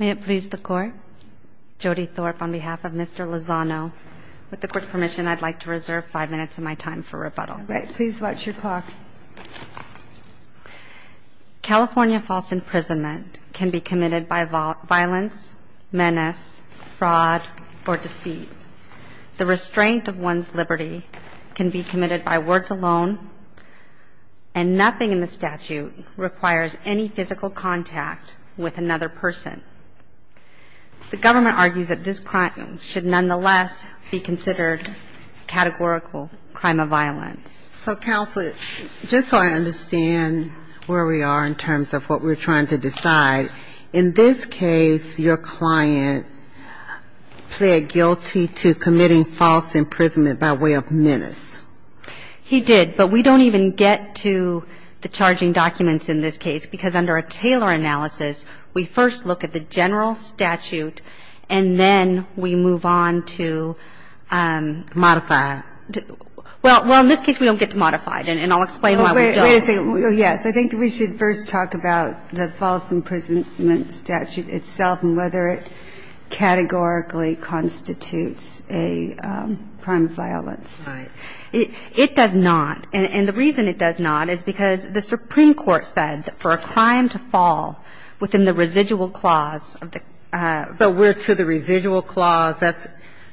California false imprisonment can be committed by violence, menace, fraud, or deceit. The restraint of one's liberty can be committed by words alone, and nothing in the statute requires any physical contact with another person. The government argues that this crime should nonetheless be considered categorical crime of violence. So, Counsel, just so I understand where we are in terms of what we're trying to decide, in this case, your client pled guilty to committing false imprisonment by way of menace. He did, but we don't even get to the charging documents in this case, because under a Taylor analysis, we first look at the general statute, and then we move on to the other. Well, in this case, we don't get to modify it, and I'll explain why we don't. Yes. I think we should first talk about the false imprisonment statute itself and whether it categorically constitutes a crime of violence. Right. It does not. And the reason it does not is because the Supreme Court said that for a crime to fall within the residual clause of the ---- So we're to the residual clause. That's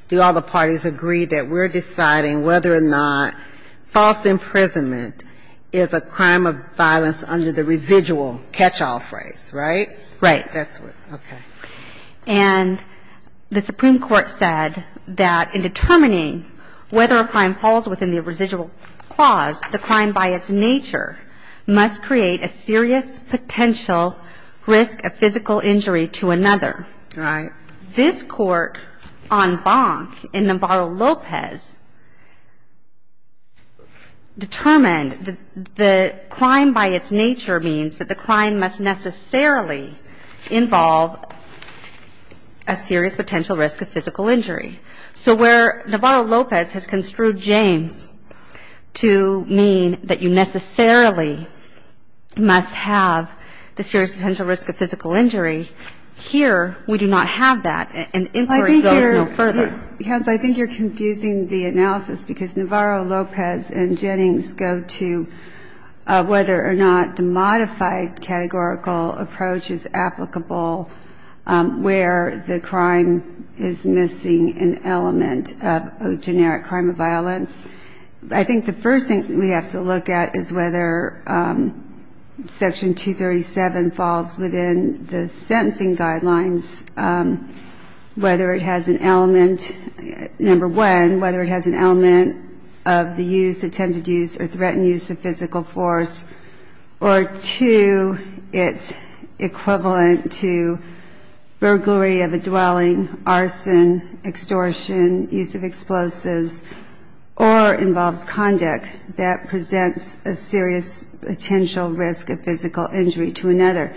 do all the parties agree that we're deciding whether or not false imprisonment is a crime of violence under the residual catch-all phrase, right? Right. Okay. And the Supreme Court said that in determining whether a crime falls within the residual clause, the crime by its nature must create a serious potential risk of physical injury to another. Right. This Court on Bonk in Navarro-Lopez determined that the crime by its nature means that the crime must necessarily involve a serious potential risk of physical injury. So where Navarro-Lopez has construed James to mean that you necessarily must have the serious potential risk of physical injury, here we do not have that, and inquiry goes no further. I think you're confusing the analysis because Navarro-Lopez and Jennings go to whether or not the modified categorical approach is applicable where the crime is missing an element of a generic crime of violence. I think the first thing we have to look at is whether Section 237 falls within the sentencing guidelines, whether it has an element, number one, whether it has an equivalent to burglary of a dwelling, arson, extortion, use of explosives, or involves conduct that presents a serious potential risk of physical injury to another.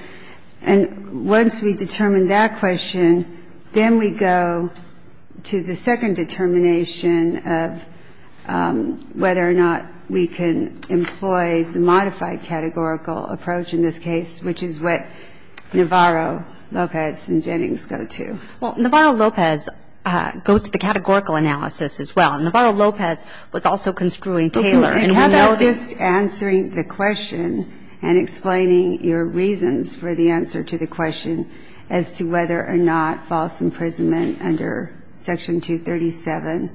And once we determine that question, then we go to the second determination of whether or not we can employ the modified categorical approach in this case, which is what Navarro-Lopez and Jennings go to. Well, Navarro-Lopez goes to the categorical analysis as well. Navarro-Lopez was also construing Taylor. How about just answering the question and explaining your reasons for the answer to the question as to whether or not false imprisonment under Section 237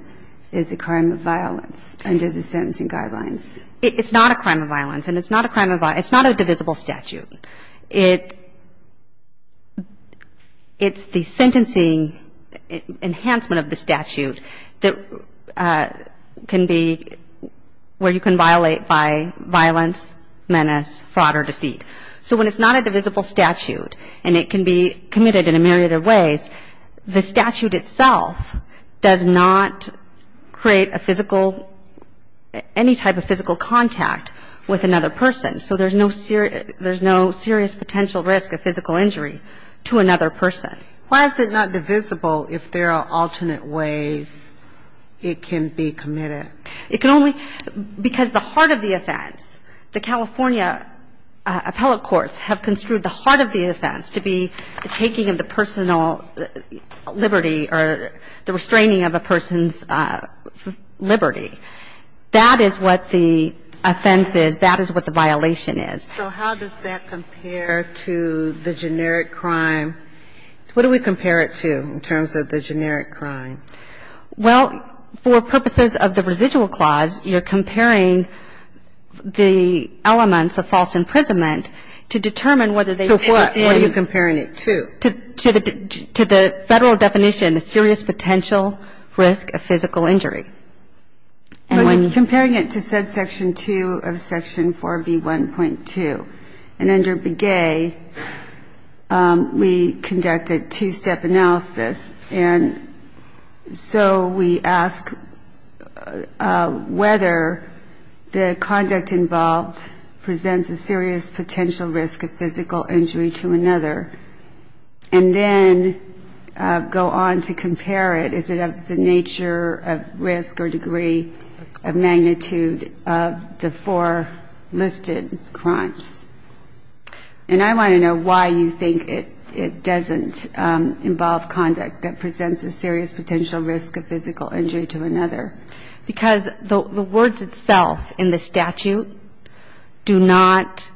is a crime of violence under the sentencing guidelines? It's not a crime of violence. And it's not a crime of violence. It's not a divisible statute. It's the sentencing enhancement of the statute that can be where you can violate by violence, menace, fraud, or deceit. So when it's not a divisible statute and it can be committed in a myriad of ways, the statute itself does not create a physical, any type of physical contact with another person. So there's no serious potential risk of physical injury to another person. Why is it not divisible if there are alternate ways it can be committed? It can only, because the heart of the offense, the California appellate courts have construed the heart of the offense to be the taking of the personal liberty or the restraining of a person's liberty. That is what the offense is. That is what the violation is. So how does that compare to the generic crime? What do we compare it to in terms of the generic crime? Well, for purposes of the residual clause, you're comparing the elements of false imprisonment to determine whether they fit in. What are you comparing it to? To the federal definition, a serious potential risk of physical injury. We're comparing it to subsection 2 of section 4B1.2. And under Begay, we conducted two-step analysis. And so we ask whether the conduct involved presents a serious potential risk of physical injury to another. And then go on to compare it. Is it of the nature of risk or degree of magnitude of the four listed crimes? And I want to know why you think it doesn't involve conduct that presents a serious potential risk of physical injury to another. Because the words itself in the statute do not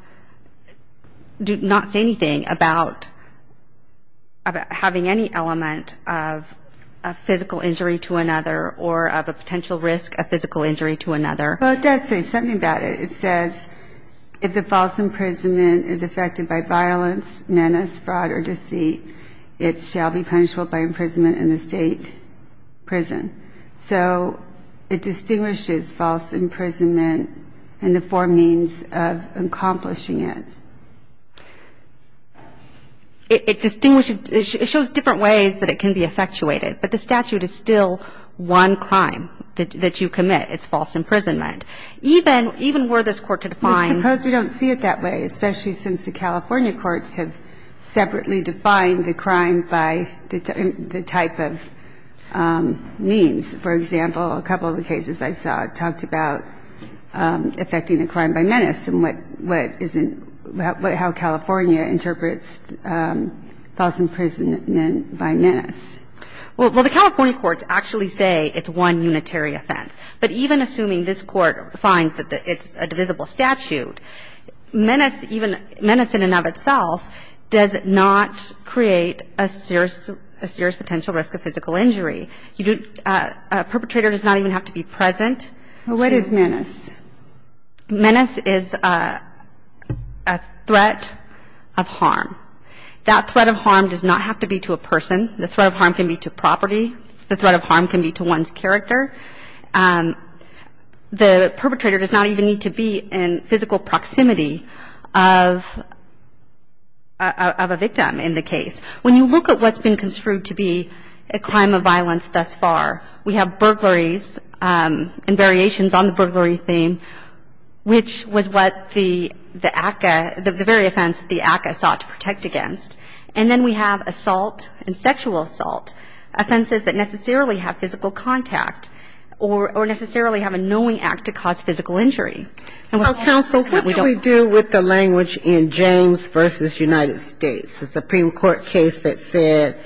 say anything about having any element of a physical injury to another or of a potential risk of physical injury to another. Well, it does say something about it. It says if the false imprisonment is affected by violence, menace, fraud, or deceit, it shall be punishable by imprisonment in the state prison. So it distinguishes false imprisonment and the four means of accomplishing it. It distinguishes – it shows different ways that it can be effectuated. But the statute is still one crime that you commit. It's false imprisonment. Even were this Court to define – I suppose we don't see it that way, especially since the California courts have separately defined the crime by the type of means. For example, a couple of the cases I saw talked about affecting a crime by menace and what isn't – how California interprets false imprisonment by menace. Well, the California courts actually say it's one unitary offense. But even assuming this Court finds that it's a divisible statute, menace in and of itself does not create a serious potential risk of physical injury. A perpetrator does not even have to be present. What is menace? Menace is a threat of harm. That threat of harm does not have to be to a person. The threat of harm can be to property. The threat of harm can be to one's character. The perpetrator does not even need to be in physical proximity of a victim in the case. When you look at what's been construed to be a crime of violence thus far, we have burglaries and variations on the burglary theme, which was what the ACCA – the very offense the ACCA sought to protect against. And then we have assault and sexual assault, offenses that necessarily have physical contact or necessarily have a knowing act to cause physical injury. So, counsel, what do we do with the language in James v. United States, the Supreme Court case that said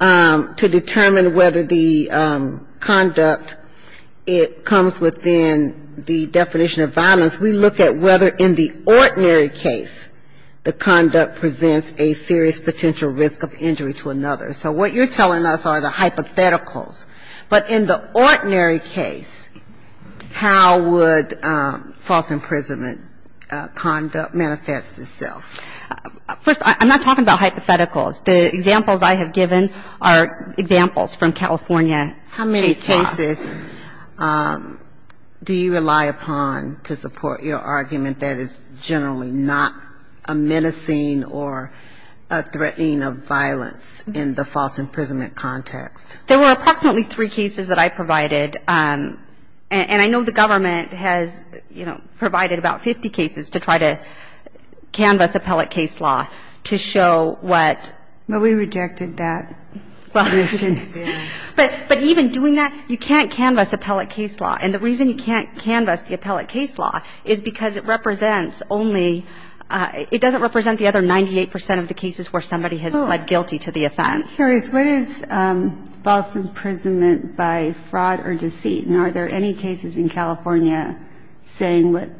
to determine whether the conduct, it comes within the definition of violence, we look at whether in the ordinary case the conduct presents a serious potential risk of injury to another. So what you're telling us are the hypotheticals. But in the ordinary case, how would false imprisonment conduct manifest itself? First, I'm not talking about hypotheticals. The examples I have given are examples from California. How many cases do you rely upon to support your argument that is generally not a menacing or a threatening of violence in the false imprisonment context? There were approximately three cases that I provided. And I know the government has, you know, provided about 50 cases to try to canvass appellate case law to show what. Well, we rejected that. But even doing that, you can't canvass appellate case law. And the reason you can't canvass the appellate case law is because it represents only, it doesn't represent the other 98 percent of the cases where somebody has pled guilty to the offense. What is false imprisonment by fraud or deceit? And are there any cases in California saying what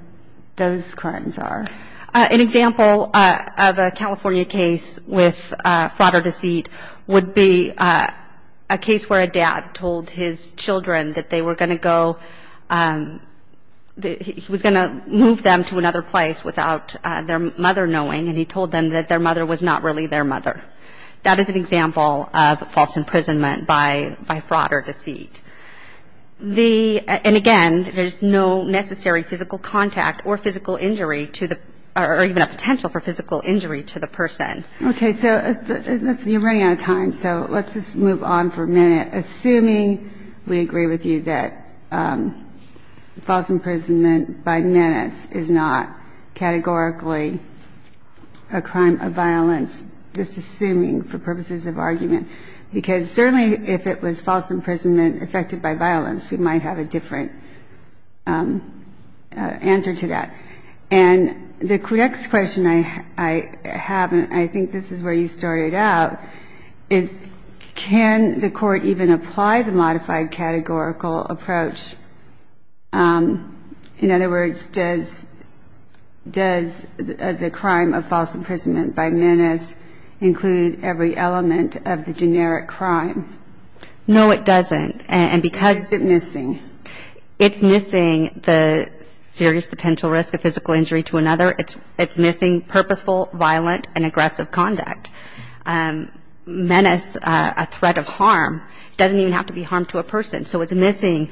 those crimes are? An example of a California case with fraud or deceit would be a case where a dad told his children that they were going to go, he was going to move them to another place without their mother knowing. And he told them that their mother was not really their mother. That is an example of false imprisonment by fraud or deceit. And again, there's no necessary physical contact or physical injury to the, or even a potential for physical injury to the person. Okay. So you're running out of time. So let's just move on for a minute, assuming we agree with you that false imprisonment by menace is not categorically a crime of violence, just assuming for purposes of argument. Because certainly if it was false imprisonment affected by violence, we might have a different answer to that. And the next question I have, and I think this is where you started out, is can the Court even apply the modified categorical approach? In other words, does the crime of false imprisonment by menace include every element of the generic crime? No, it doesn't. Why is it missing? It's missing the serious potential risk of physical injury to another. It's missing purposeful, violent, and aggressive conduct. Menace, a threat of harm, doesn't even have to be harm to a person. So it's missing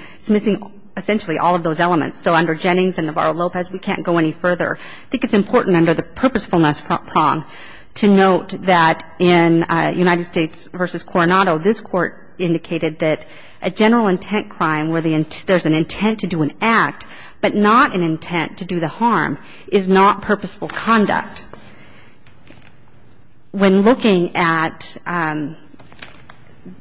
essentially all of those elements. So under Jennings and Navarro-Lopez, we can't go any further. I think it's important under the purposefulness prong to note that in United States v. Coronado, this Court indicated that a general intent crime where there's an intent to do an act, but not an intent to do the harm, is not purposeful conduct. When looking at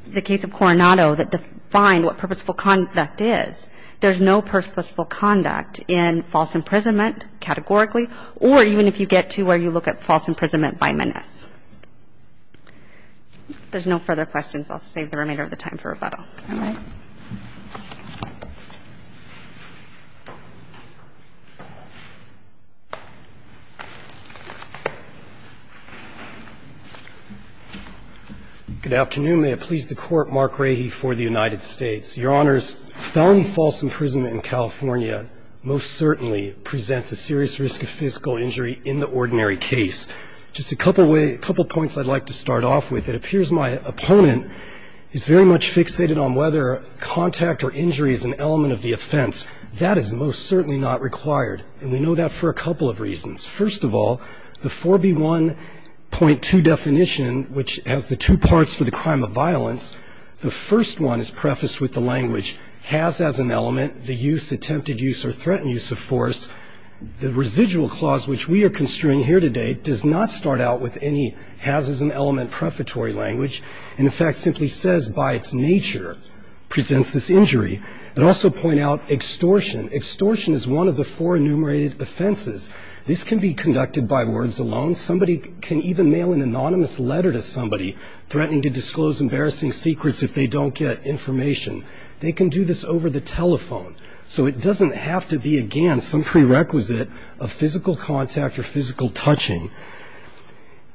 the case of Coronado that defined what purposeful conduct is, there's no purposeful conduct in false imprisonment categorically or even if you get to where you look at false imprisonment by menace. If there's no further questions, I'll save the remainder of the time for rebuttal. All right. Good afternoon. May it please the Court. Mark Rahe for the United States. Your Honors, felony false imprisonment in California most certainly presents a serious risk of physical injury in the ordinary case. Just a couple points I'd like to start off with. It appears my opponent is very much fixated on whether contact or injury is an element of the offense. That is most certainly not required, and we know that for a couple of reasons. First of all, the 4B1.2 definition, which has the two parts for the crime of violence, the first one is prefaced with the language, has as an element, the use, attempted use, or threatened use of force. The residual clause, which we are construing here today, does not start out with any has as an element prefatory language, and in fact simply says, by its nature, presents this injury, but also point out extortion. Extortion is one of the four enumerated offenses. This can be conducted by words alone. Somebody can even mail an anonymous letter to somebody threatening to disclose embarrassing secrets if they don't get information. They can do this over the telephone. So it doesn't have to be, again, some prerequisite of physical contact or physical touching.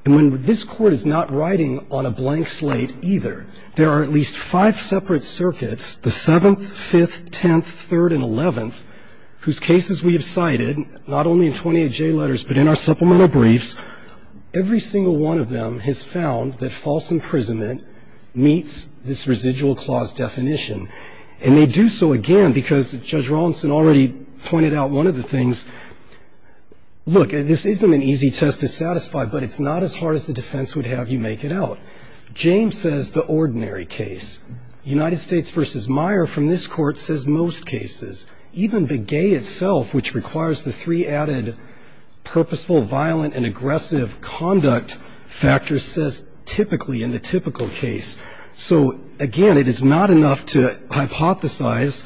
And when this Court is not writing on a blank slate either, there are at least five separate circuits, the 7th, 5th, 10th, 3rd, and 11th, whose cases we have cited, not only in 28J letters but in our supplemental briefs, every single one of them has found that false imprisonment meets this residual clause definition. And they do so, again, because Judge Rawlinson already pointed out one of the things. Look, this isn't an easy test to satisfy, but it's not as hard as the defense would have you make it out. James says the ordinary case. United States v. Meyer from this Court says most cases. Even Begay itself, which requires the three added purposeful, violent, and aggressive conduct factors, says typically in the typical case. So, again, it is not enough to hypothesize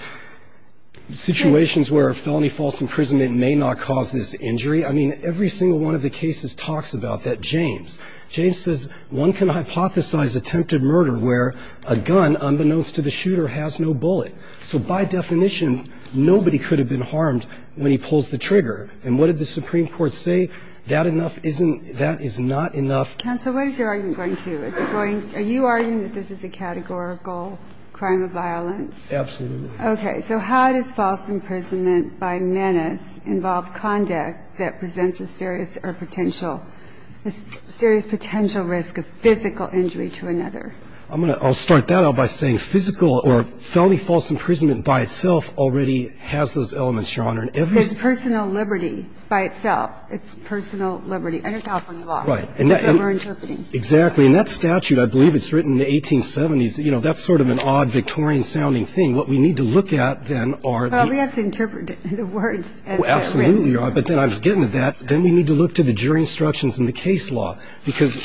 situations where a felony false imprisonment may not cause this injury. I mean, every single one of the cases talks about that. James. James says one can hypothesize attempted murder where a gun, unbeknownst to the shooter, has no bullet. So by definition, nobody could have been harmed when he pulls the trigger. And what did the Supreme Court say? That enough isn't – that is not enough. Counsel, what is your argument going to? Is it going – are you arguing that this is a categorical crime of violence? Absolutely. Okay. So how does false imprisonment by menace involve conduct that presents a serious or potential – a serious potential risk of physical injury to another? I'm going to – I'll start that out by saying physical or felony false imprisonment by itself already has those elements, Your Honor. There's personal liberty by itself. It's personal liberty under California law. Right. That we're interpreting. Exactly. And that statute, I believe it's written in the 1870s. You know, that's sort of an odd Victorian-sounding thing. What we need to look at, then, are the – Well, we have to interpret the words as they're written. Absolutely, Your Honor. But then I was getting to that. Then we need to look to the jury instructions and the case law, because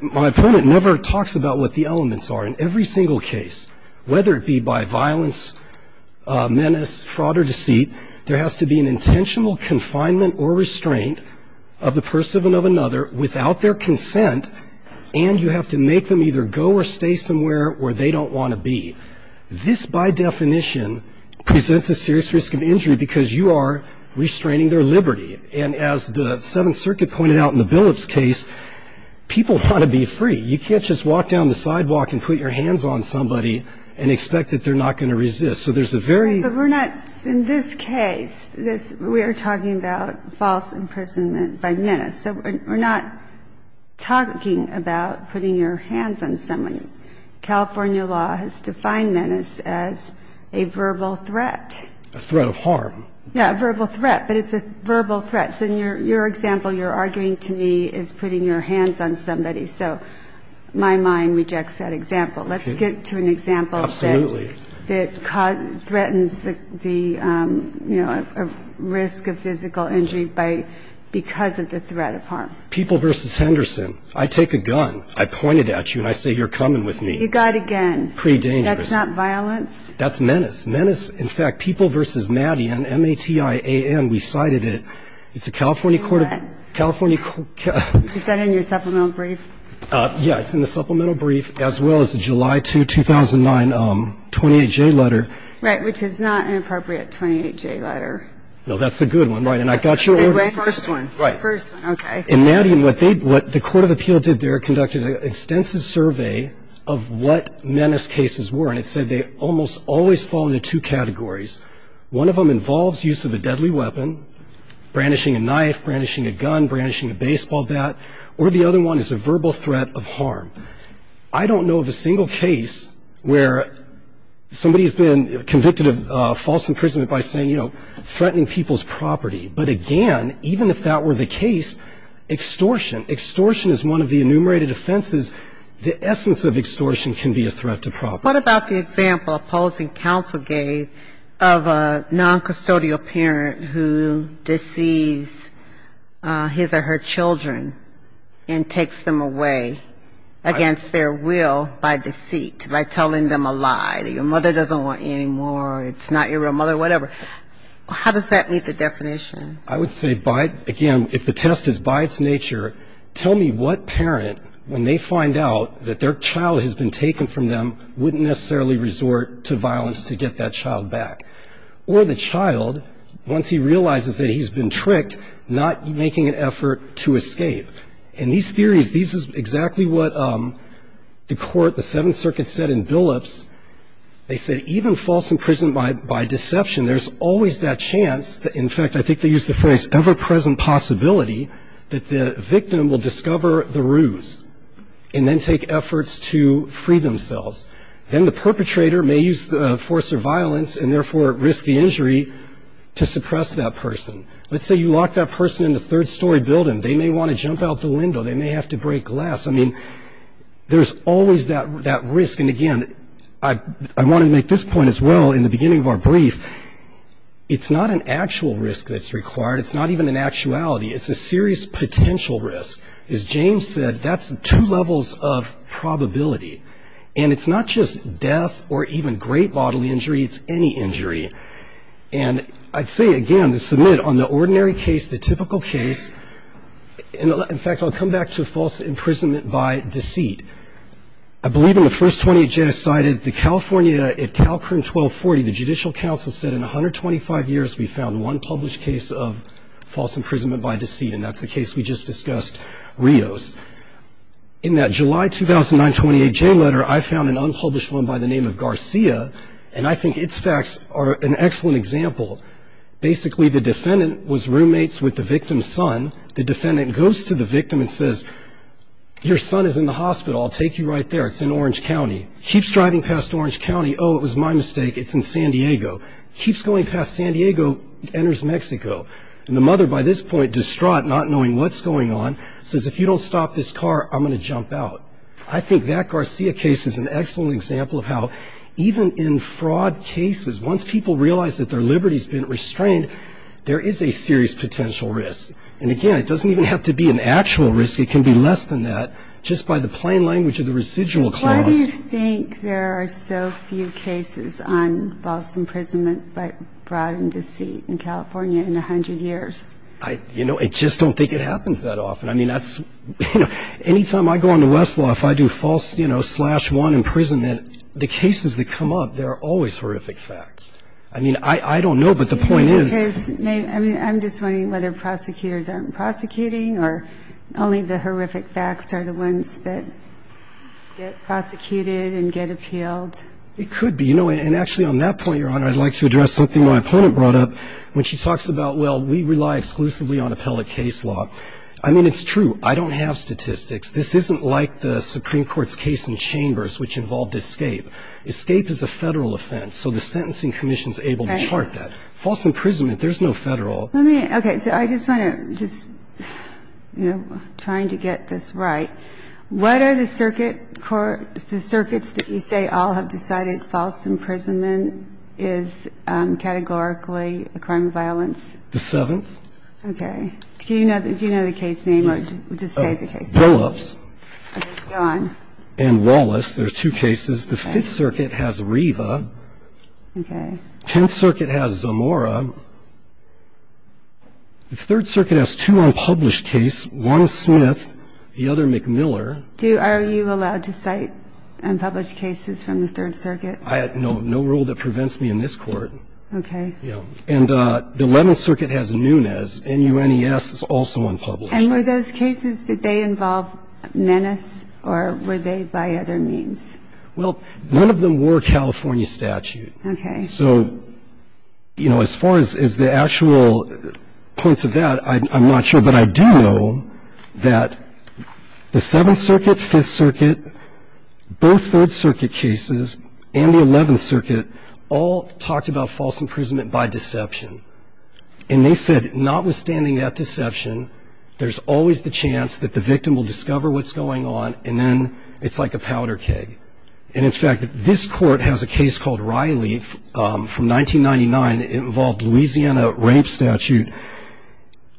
my opponent never talks about what the elements are in every single case. Whether it be by violence, menace, fraud, or deceit, there has to be an intentional confinement or restraint of the person of another without their consent, and you have to make them either go or stay somewhere where they don't want to be. This, by definition, presents a serious risk of injury because you are restraining their liberty. And as the Seventh Circuit pointed out in the Billups case, people want to be free. You can't just walk down the sidewalk and put your hands on somebody and expect that they're not going to resist. So there's a very – But we're not – in this case, we are talking about false imprisonment by menace. So we're not talking about putting your hands on somebody. California law has defined menace as a verbal threat. A threat of harm. Yeah, a verbal threat, but it's a verbal threat. So in your example, you're arguing to me it's putting your hands on somebody. So my mind rejects that example. Okay. Let's get to an example that – Absolutely. – that threatens the, you know, risk of physical injury by – because of the threat of harm. People v. Henderson. I take a gun. I point it at you, and I say, you're coming with me. You got a gun. Pre-dangerous. That's not violence? That's menace. Menace, in fact, people v. Maddie, M-A-T-I-A-N, we cited it. It's a California – What? California – Is that in your supplemental brief? Yeah, it's in the supplemental brief, as well as the July 2, 2009 28J letter. Right, which is not an appropriate 28J letter. No, that's a good one. Right. And I got you – First one. Right. First one. Okay. And Maddie and what they – what the Court of Appeal did there, conducted an extensive survey of what menace cases were, and it said they almost always fall into two categories. One of them involves use of a deadly weapon, brandishing a knife, brandishing a gun, brandishing a baseball bat, or the other one is a verbal threat of harm. I don't know of a single case where somebody has been convicted of false imprisonment by saying, you know, threatening people's property. But again, even if that were the case, extortion, extortion is one of the enumerated offenses. The essence of extortion can be a threat to property. What about the example opposing counsel gave of a noncustodial parent who deceives his or her children and takes them away against their will by deceit, by telling them a lie, that your mother doesn't want you anymore, it's not your real mother, whatever. How does that meet the definition? I would say by – again, if the test is by its nature, tell me what parent, when they find out that their child has been taken from them, wouldn't necessarily resort to violence to get that child back. Or the child, once he realizes that he's been tricked, not making an effort to escape. And these theories, this is exactly what the court, the Seventh Circuit, said in Billups. They said even false imprisonment by deception, there's always that chance, in fact, I think they used the phrase, ever-present possibility that the victim will discover the ruse and then take efforts to free themselves. Then the perpetrator may use force or violence and, therefore, risk the injury to suppress that person. Let's say you lock that person in a third-story building. They may want to jump out the window. They may have to break glass. I mean, there's always that risk. And, again, I want to make this point as well in the beginning of our brief. It's not an actual risk that's required. It's not even an actuality. It's a serious potential risk. As James said, that's two levels of probability. And it's not just death or even great bodily injury. It's any injury. And I'd say, again, to submit, on the ordinary case, the typical case, in fact, I'll come back to false imprisonment by deceit. I believe in the first 20 that Jay has cited, the California, at CalCrim 1240, the Judicial Council said in 125 years we found one published case of false imprisonment by deceit, and that's the case we just discussed, Rios. In that July 2009-28 Jay letter, I found an unpublished one by the name of Garcia, and I think its facts are an excellent example. Basically, the defendant was roommates with the victim's son. The defendant goes to the victim and says, your son is in the hospital. I'll take you right there. It's in Orange County. Keeps driving past Orange County. Oh, it was my mistake. It's in San Diego. Keeps going past San Diego, enters Mexico. And the mother, by this point distraught, not knowing what's going on, says, if you don't stop this car, I'm going to jump out. I think that Garcia case is an excellent example of how even in fraud cases, once people realize that their liberty has been restrained, there is a serious potential risk. And, again, it doesn't even have to be an actual risk. It can be less than that just by the plain language of the residual clause. Why do you think there are so few cases on false imprisonment but fraud and deceit in California in 100 years? You know, I just don't think it happens that often. I mean, that's, you know, any time I go into Westlaw, if I do false, you know, slash one imprisonment, the cases that come up, they're always horrific facts. I mean, I don't know, but the point is. I mean, I'm just wondering whether prosecutors aren't prosecuting or only the horrific facts are the ones that get prosecuted and get appealed. It could be. You know, and actually on that point, Your Honor, I'd like to address something my opponent brought up when she talks about, well, we rely exclusively on appellate case law. I mean, it's true. I don't have statistics. This isn't like the Supreme Court's case in Chambers, which involved escape. Escape is a Federal offense, so the Sentencing Commission is able to chart that. Right. False imprisonment, there's no Federal. Let me. Okay. So I just want to just, you know, trying to get this right, what are the circuit courts, the circuits that you say all have decided false imprisonment is categorically a crime of violence? The Seventh. Okay. Do you know the case name or just say the case name? Billups. Okay. Go on. And Wallace. There's two cases. The Fifth Circuit has Riva. Okay. Tenth Circuit has Zamora. The Third Circuit has two unpublished cases. One is Smith. The other, McMiller. Are you allowed to cite unpublished cases from the Third Circuit? I have no rule that prevents me in this Court. Okay. Yeah. And the Eleventh Circuit has Nunes. N-U-N-E-S is also unpublished. And were those cases, did they involve menace or were they by other means? Well, none of them were California statute. Okay. So, you know, as far as the actual points of that, I'm not sure. But I do know that the Seventh Circuit, Fifth Circuit, both Third Circuit cases, and the Eleventh Circuit all talked about false imprisonment by deception. And they said notwithstanding that deception, there's always the chance that the victim will discover what's going on, and then it's like a powder keg. And in fact, this Court has a case called Riley from 1999. It involved Louisiana rape statute,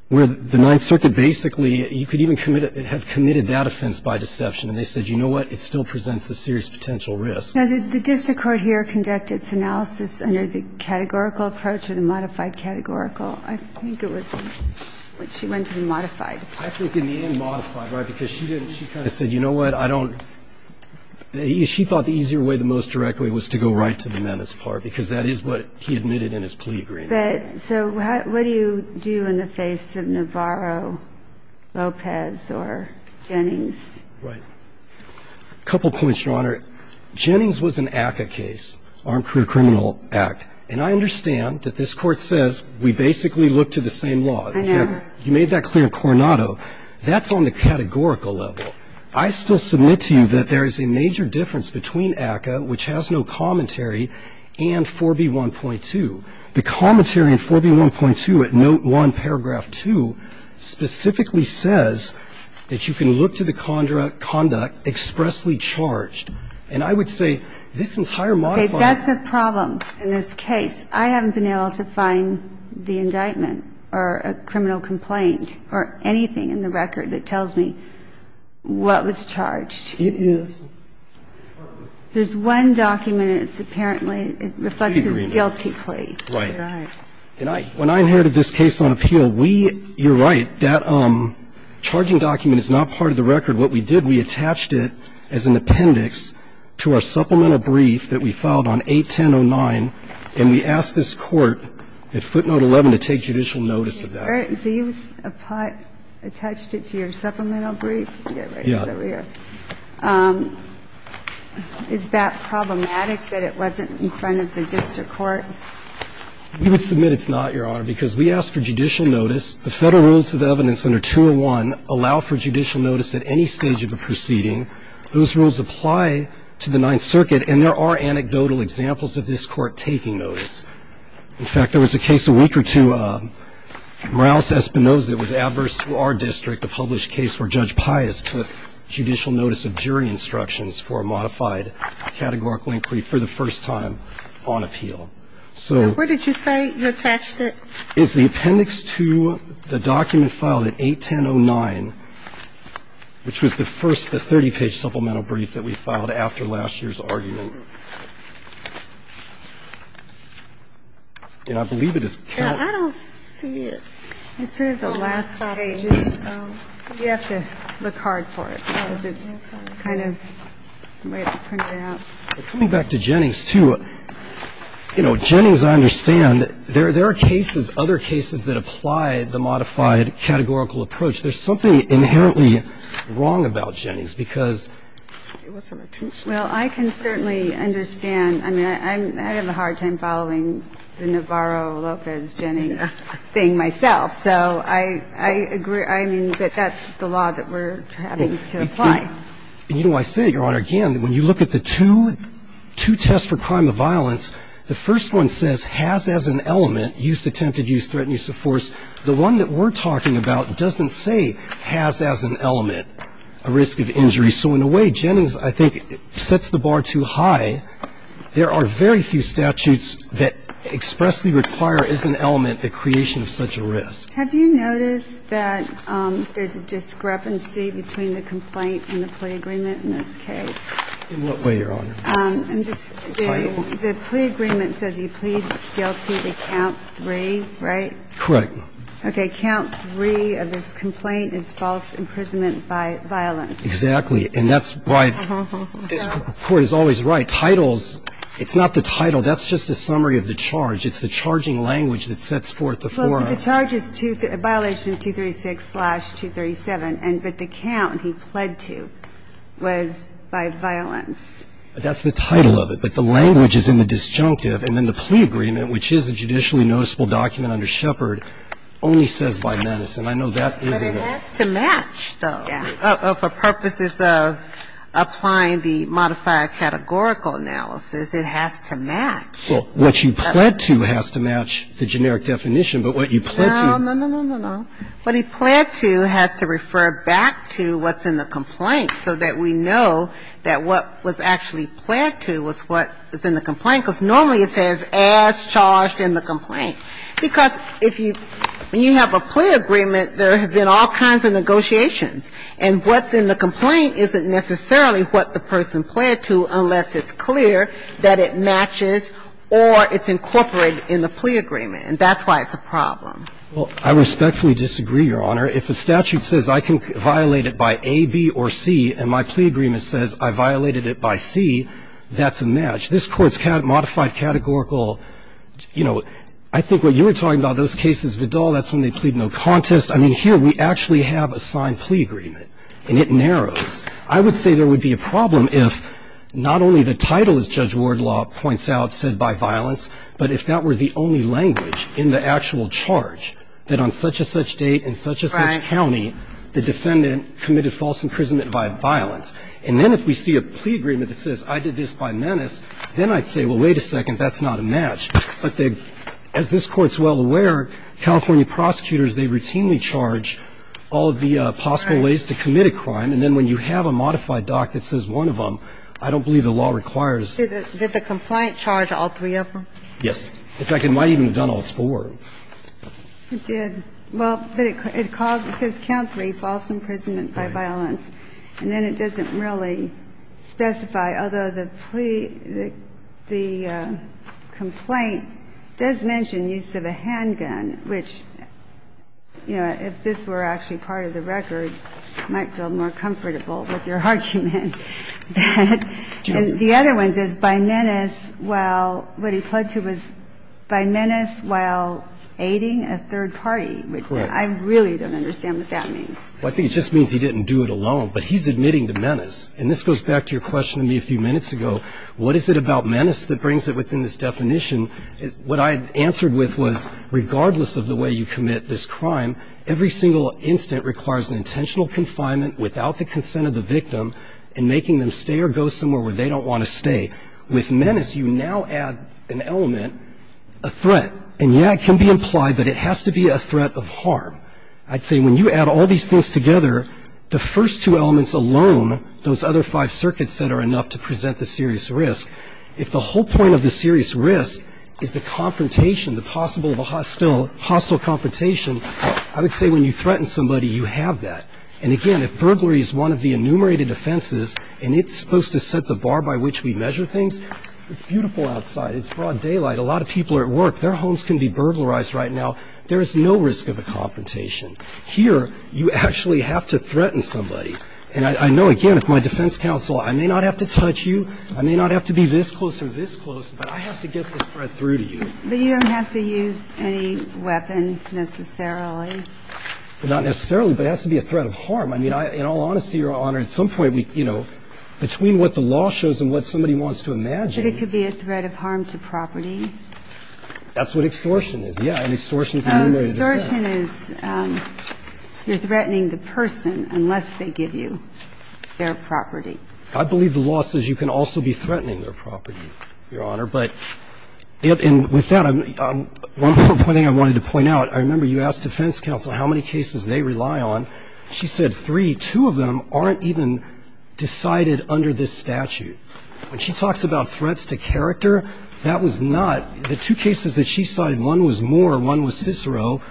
where the Ninth Circuit basically, you could even have committed that offense by deception. And they said, you know what, it still presents a serious potential risk. Now, did the district court here conduct its analysis under the categorical approach or the modified categorical? I think it was when she went to the modified. I think in the end, modified, right, because she didn't. She said, you know what, I don't – she thought the easier way, the most direct way, was to go right to the menace part, because that is what he admitted in his plea agreement. But so what do you do in the face of Navarro, Lopez or Jennings? Right. A couple points, Your Honor. Jennings was an ACCA case, Armed Career Criminal Act, and I understand that this Court says we basically look to the same law. I know. You made that clear in Coronado. That's on the categorical level. I still submit to you that there is a major difference between ACCA, which has no commentary, and 4B1.2. The commentary in 4B1.2 at Note 1, Paragraph 2, specifically says that you can look to the conduct expressly charged. And I would say this entire modified. That's the problem in this case. I haven't been able to find the indictment or a criminal complaint or anything in the record that tells me what was charged. It is. There's one document, and it's apparently – it reflects his guilty plea. Right. And I – when I inherited this case on appeal, we – you're right, that charging document is not part of the record. What we did, we attached it as an appendix to our supplemental brief that we filed on 81009, and we asked this Court at footnote 11 to take judicial notice of that. So you attached it to your supplemental brief? Yeah. Is that problematic that it wasn't in front of the district court? We would submit it's not, Your Honor, because we asked for judicial notice. The Federal Rules of Evidence under 201 allow for judicial notice at any stage of a proceeding. Those rules apply to the Ninth Circuit, and there are anecdotal examples of this Court taking notice. In fact, there was a case a week or two, Morales-Espinosa. It was adverse to our district. The published case where Judge Pius took judicial notice of jury instructions for a modified categorical inquiry for the first time on appeal. And where did you say you attached it? It's the appendix to the document filed at 81009, which was the first, the 30-page supplemental brief that we filed after last year's argument. And I believe it is counted. I don't see it. It's sort of the last pages. You have to look hard for it because it's kind of the way it's printed out. Coming back to Jennings, too, you know, Jennings, I understand, there are cases, other cases that apply the modified categorical approach. There's something inherently wrong about Jennings, because it wasn't intentional. Well, I can certainly understand. I mean, I have a hard time following the Navarro-Lopez-Jennings thing myself. So I agree, I mean, that that's the law that we're having to apply. And, you know, I say it, Your Honor, again, when you look at the two tests for crime of violence, the first one says has as an element, use attempted, use threatened, use of force. The one that we're talking about doesn't say has as an element a risk of injury. So in a way, Jennings, I think, sets the bar too high. There are very few statutes that expressly require, as an element, the creation of such a risk. Have you noticed that there's a discrepancy between the complaint and the plea agreement in this case? In what way, Your Honor? The plea agreement says he pleads guilty to count three, right? Correct. Okay. Count three of this complaint is false imprisonment by violence. Exactly. And that's why this Court is always right. Titles, it's not the title. That's just a summary of the charge. It's the charging language that sets forth the forum. The charge is violation 236-237, but the count he pled to was by violence. That's the title of it. But the language is in the disjunctive. And then the plea agreement, which is a judicially noticeable document under Shepard, only says by menace. And I know that isn't it. But it has to match, though. Yeah. For purposes of applying the modifier categorical analysis, it has to match. Well, what you pled to has to match the generic definition, but what you pled to. No, no, no, no, no. What he pled to has to refer back to what's in the complaint so that we know that what was actually pled to was what is in the complaint, because normally it says as charged in the complaint. Because if you – when you have a plea agreement, there have been all kinds of negotiations, and what's in the complaint isn't necessarily what the person pled to unless it's incorporated in the plea agreement, and that's why it's a problem. Well, I respectfully disagree, Your Honor. If a statute says I can violate it by A, B, or C, and my plea agreement says I violated it by C, that's a match. This Court's modified categorical, you know, I think what you were talking about, those cases, Vidal, that's when they plead no contest. I mean, here we actually have a signed plea agreement, and it narrows. I would say there would be a problem if not only the title, as Judge Wardlaw points out, said by violence, but if that were the only language in the actual charge that on such-and-such date in such-and-such county, the defendant committed false imprisonment by violence. And then if we see a plea agreement that says I did this by menace, then I'd say, well, wait a second, that's not a match. But as this Court's well aware, California prosecutors, they routinely charge all of the possible ways to commit a crime. And then when you have a modified doc that says one of them, I don't believe the law requires. Did the complaint charge all three of them? Yes. In fact, it might have even done all four. It did. Well, but it calls the count three, false imprisonment by violence, and then it doesn't really specify, although the plea, the complaint does mention use of a handgun, which, you know, if this were actually part of the record, might feel more comfortable with your argument. And the other one says by menace while what he pled to was by menace while aiding a third party, which I really don't understand what that means. Well, I think it just means he didn't do it alone. But he's admitting to menace. And this goes back to your question to me a few minutes ago. What is it about menace that brings it within this definition? What I answered with was regardless of the way you commit this crime, every single incident requires an intentional confinement without the consent of the victim and making them stay or go somewhere where they don't want to stay. With menace, you now add an element, a threat. And, yeah, it can be implied, but it has to be a threat of harm. I'd say when you add all these things together, the first two elements alone, those other five circuits that are enough to present the serious risk, if the whole point of the serious risk is the confrontation, the possible hostile confrontation, I would say when you threaten somebody, you have that. And, again, if burglary is one of the enumerated offenses and it's supposed to set the bar by which we measure things, it's beautiful outside. It's broad daylight. A lot of people are at work. Their homes can be burglarized right now. There is no risk of a confrontation. Here, you actually have to threaten somebody. And I know, again, if my defense counsel, I may not have to touch you. I may not have to be this close or this close, but I have to get this threat through to you. But you don't have to use any weapon necessarily. Not necessarily, but it has to be a threat of harm. I mean, in all honesty, Your Honor, at some point, you know, between what the law shows and what somebody wants to imagine. But it could be a threat of harm to property. That's what extortion is. Yeah, and extortion is an enumerated offense. Extortion is you're threatening the person unless they give you their property. I believe the law says you can also be threatening their property, Your Honor. But with that, one more point I wanted to point out. I remember you asked defense counsel how many cases they rely on. She said three. Two of them aren't even decided under this statute. When she talks about threats to character, that was not the two cases that she cited. One was Moore. One was Cicero.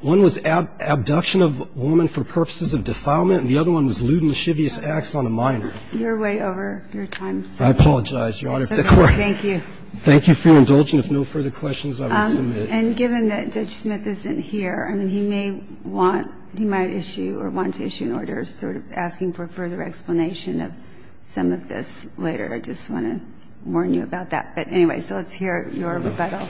One was abduction of a woman for purposes of defilement. And the other one was lewd and chivious acts on a minor. You're way over your time, sir. I apologize, Your Honor. Thank you. Thank you for your indulgence. If no further questions, I will submit. And given that Judge Smith isn't here, I mean, he may want, he might issue or want to issue an order sort of asking for further explanation of some of this later. I just want to warn you about that. But anyway, so let's hear your rebuttal.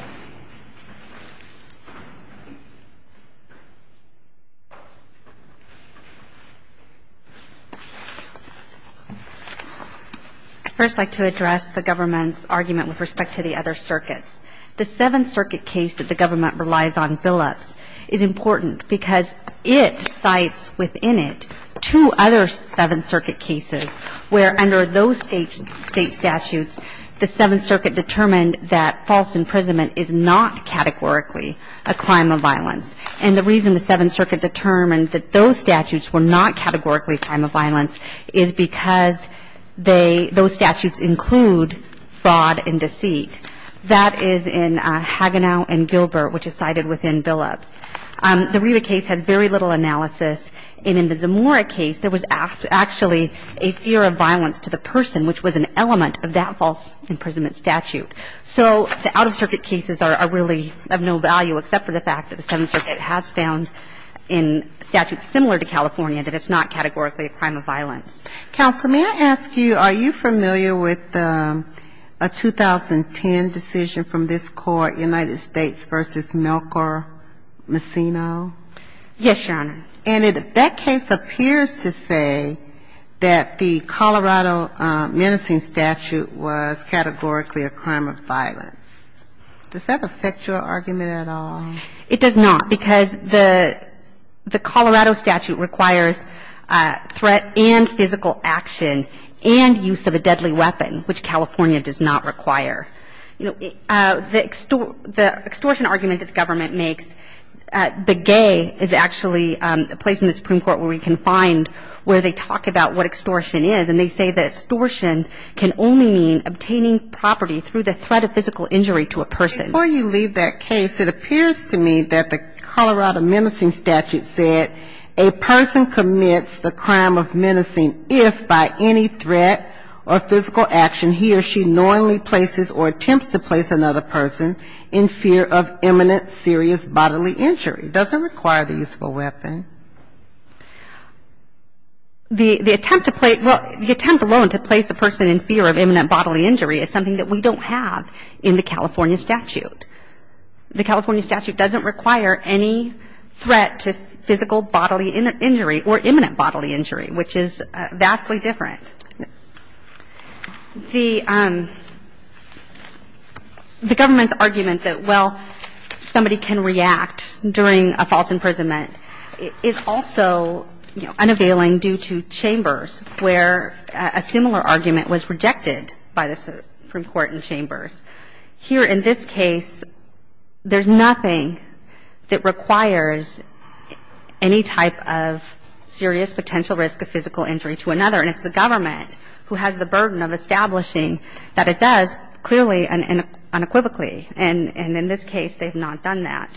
First, I'd like to address the government's argument with respect to the other circuits. The Seventh Circuit case that the government relies on billups is important because it cites within it two other Seventh Circuit cases where under those state statutes, the Seventh Circuit determined that false imprisonment is not a crime. It is not categorically a crime of violence. And the reason the Seventh Circuit determined that those statutes were not categorically a crime of violence is because they, those statutes include fraud and deceit. That is in Hagenau and Gilbert, which is cited within billups. The Riva case had very little analysis. And in the Zamora case, there was actually a fear of violence to the person, which was an element of that false imprisonment statute. So the out-of-circuit cases are really of no value except for the fact that the Seventh Circuit has found in statutes similar to California that it's not categorically a crime of violence. Counsel, may I ask you, are you familiar with a 2010 decision from this Court, United States v. Melchor Messina? Yes, Your Honor. And that case appears to say that the Colorado menacing statute was categorically a crime of violence. Does that affect your argument at all? It does not, because the Colorado statute requires threat and physical action and use of a deadly weapon, which California does not require. You know, the extortion argument that the government makes, the gay is actually a place in the Supreme Court where we can find where they talk about what extortion is, and they say that extortion can only mean obtaining property through the threat of physical injury to a person. Before you leave that case, it appears to me that the Colorado menacing statute said a person commits the crime of menacing if by any threat or physical action he or she knowingly places or attempts to place another person in fear of imminent serious bodily injury. Does it require the use of a weapon? The attempt to place the person in fear of imminent bodily injury is something that we don't have in the California statute. The California statute doesn't require any threat to physical bodily injury or imminent bodily injury, which is vastly different. The government's argument that, well, somebody can react during a physical injury to another person's bodily injury is something that we don't have in the The government's argument that somebody can react during a false imprisonment is also, you know, unavailing due to Chambers where a similar argument was rejected by the Supreme Court in Chambers. Here in this case, there's nothing that requires any type of serious potential risk of physical injury to another, and it's the government who has the burden of establishing that it does clearly and unequivocally. And in this case, they've not done that.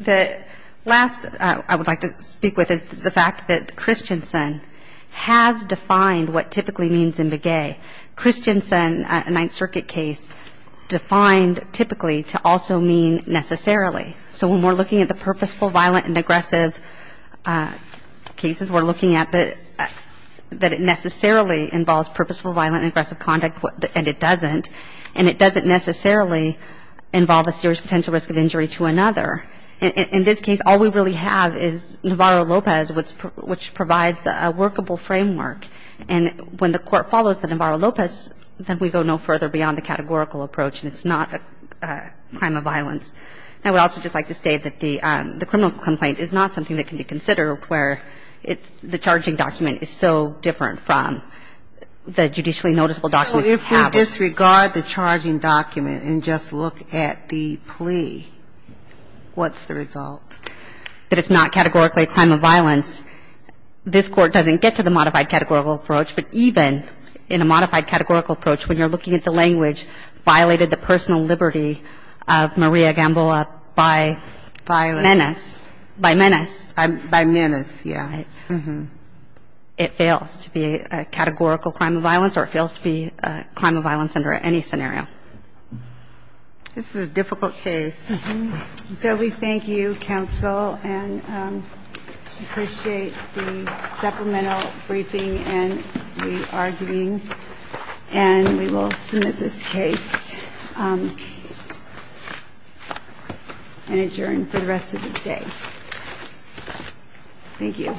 The last I would like to speak with is the fact that Christensen has defined what typically means in Begay. Christensen, a Ninth Circuit case, defined typically to also mean necessarily. So when we're looking at the purposeful, violent, and aggressive cases, we're looking at that it necessarily involves purposeful, violent, and aggressive conduct, and it doesn't. And it doesn't necessarily involve a serious potential risk of injury to another. In this case, all we really have is Navarro-Lopez, which provides a workable framework. And when the Court follows the Navarro-Lopez, then we go no further beyond the categorical approach, and it's not a crime of violence. Now, I would also just like to state that the criminal complaint is not something that can be considered where it's the charging document is so different from the judicially noticeable document that we have. So if we disregard the charging document and just look at the plea, what's the result? That it's not categorically a crime of violence, this Court doesn't get to the modified categorical approach. But even in a modified categorical approach, when you're looking at the language violated the personal liberty of Maria Gamboa by menace, by menace. By menace, yeah. Right. It fails to be a categorical crime of violence or it fails to be a crime of violence under any scenario. This is a difficult case. So we thank you, counsel, and appreciate the supplemental briefing and the arguing. And we will submit this case and adjourn for the rest of the day. Thank you.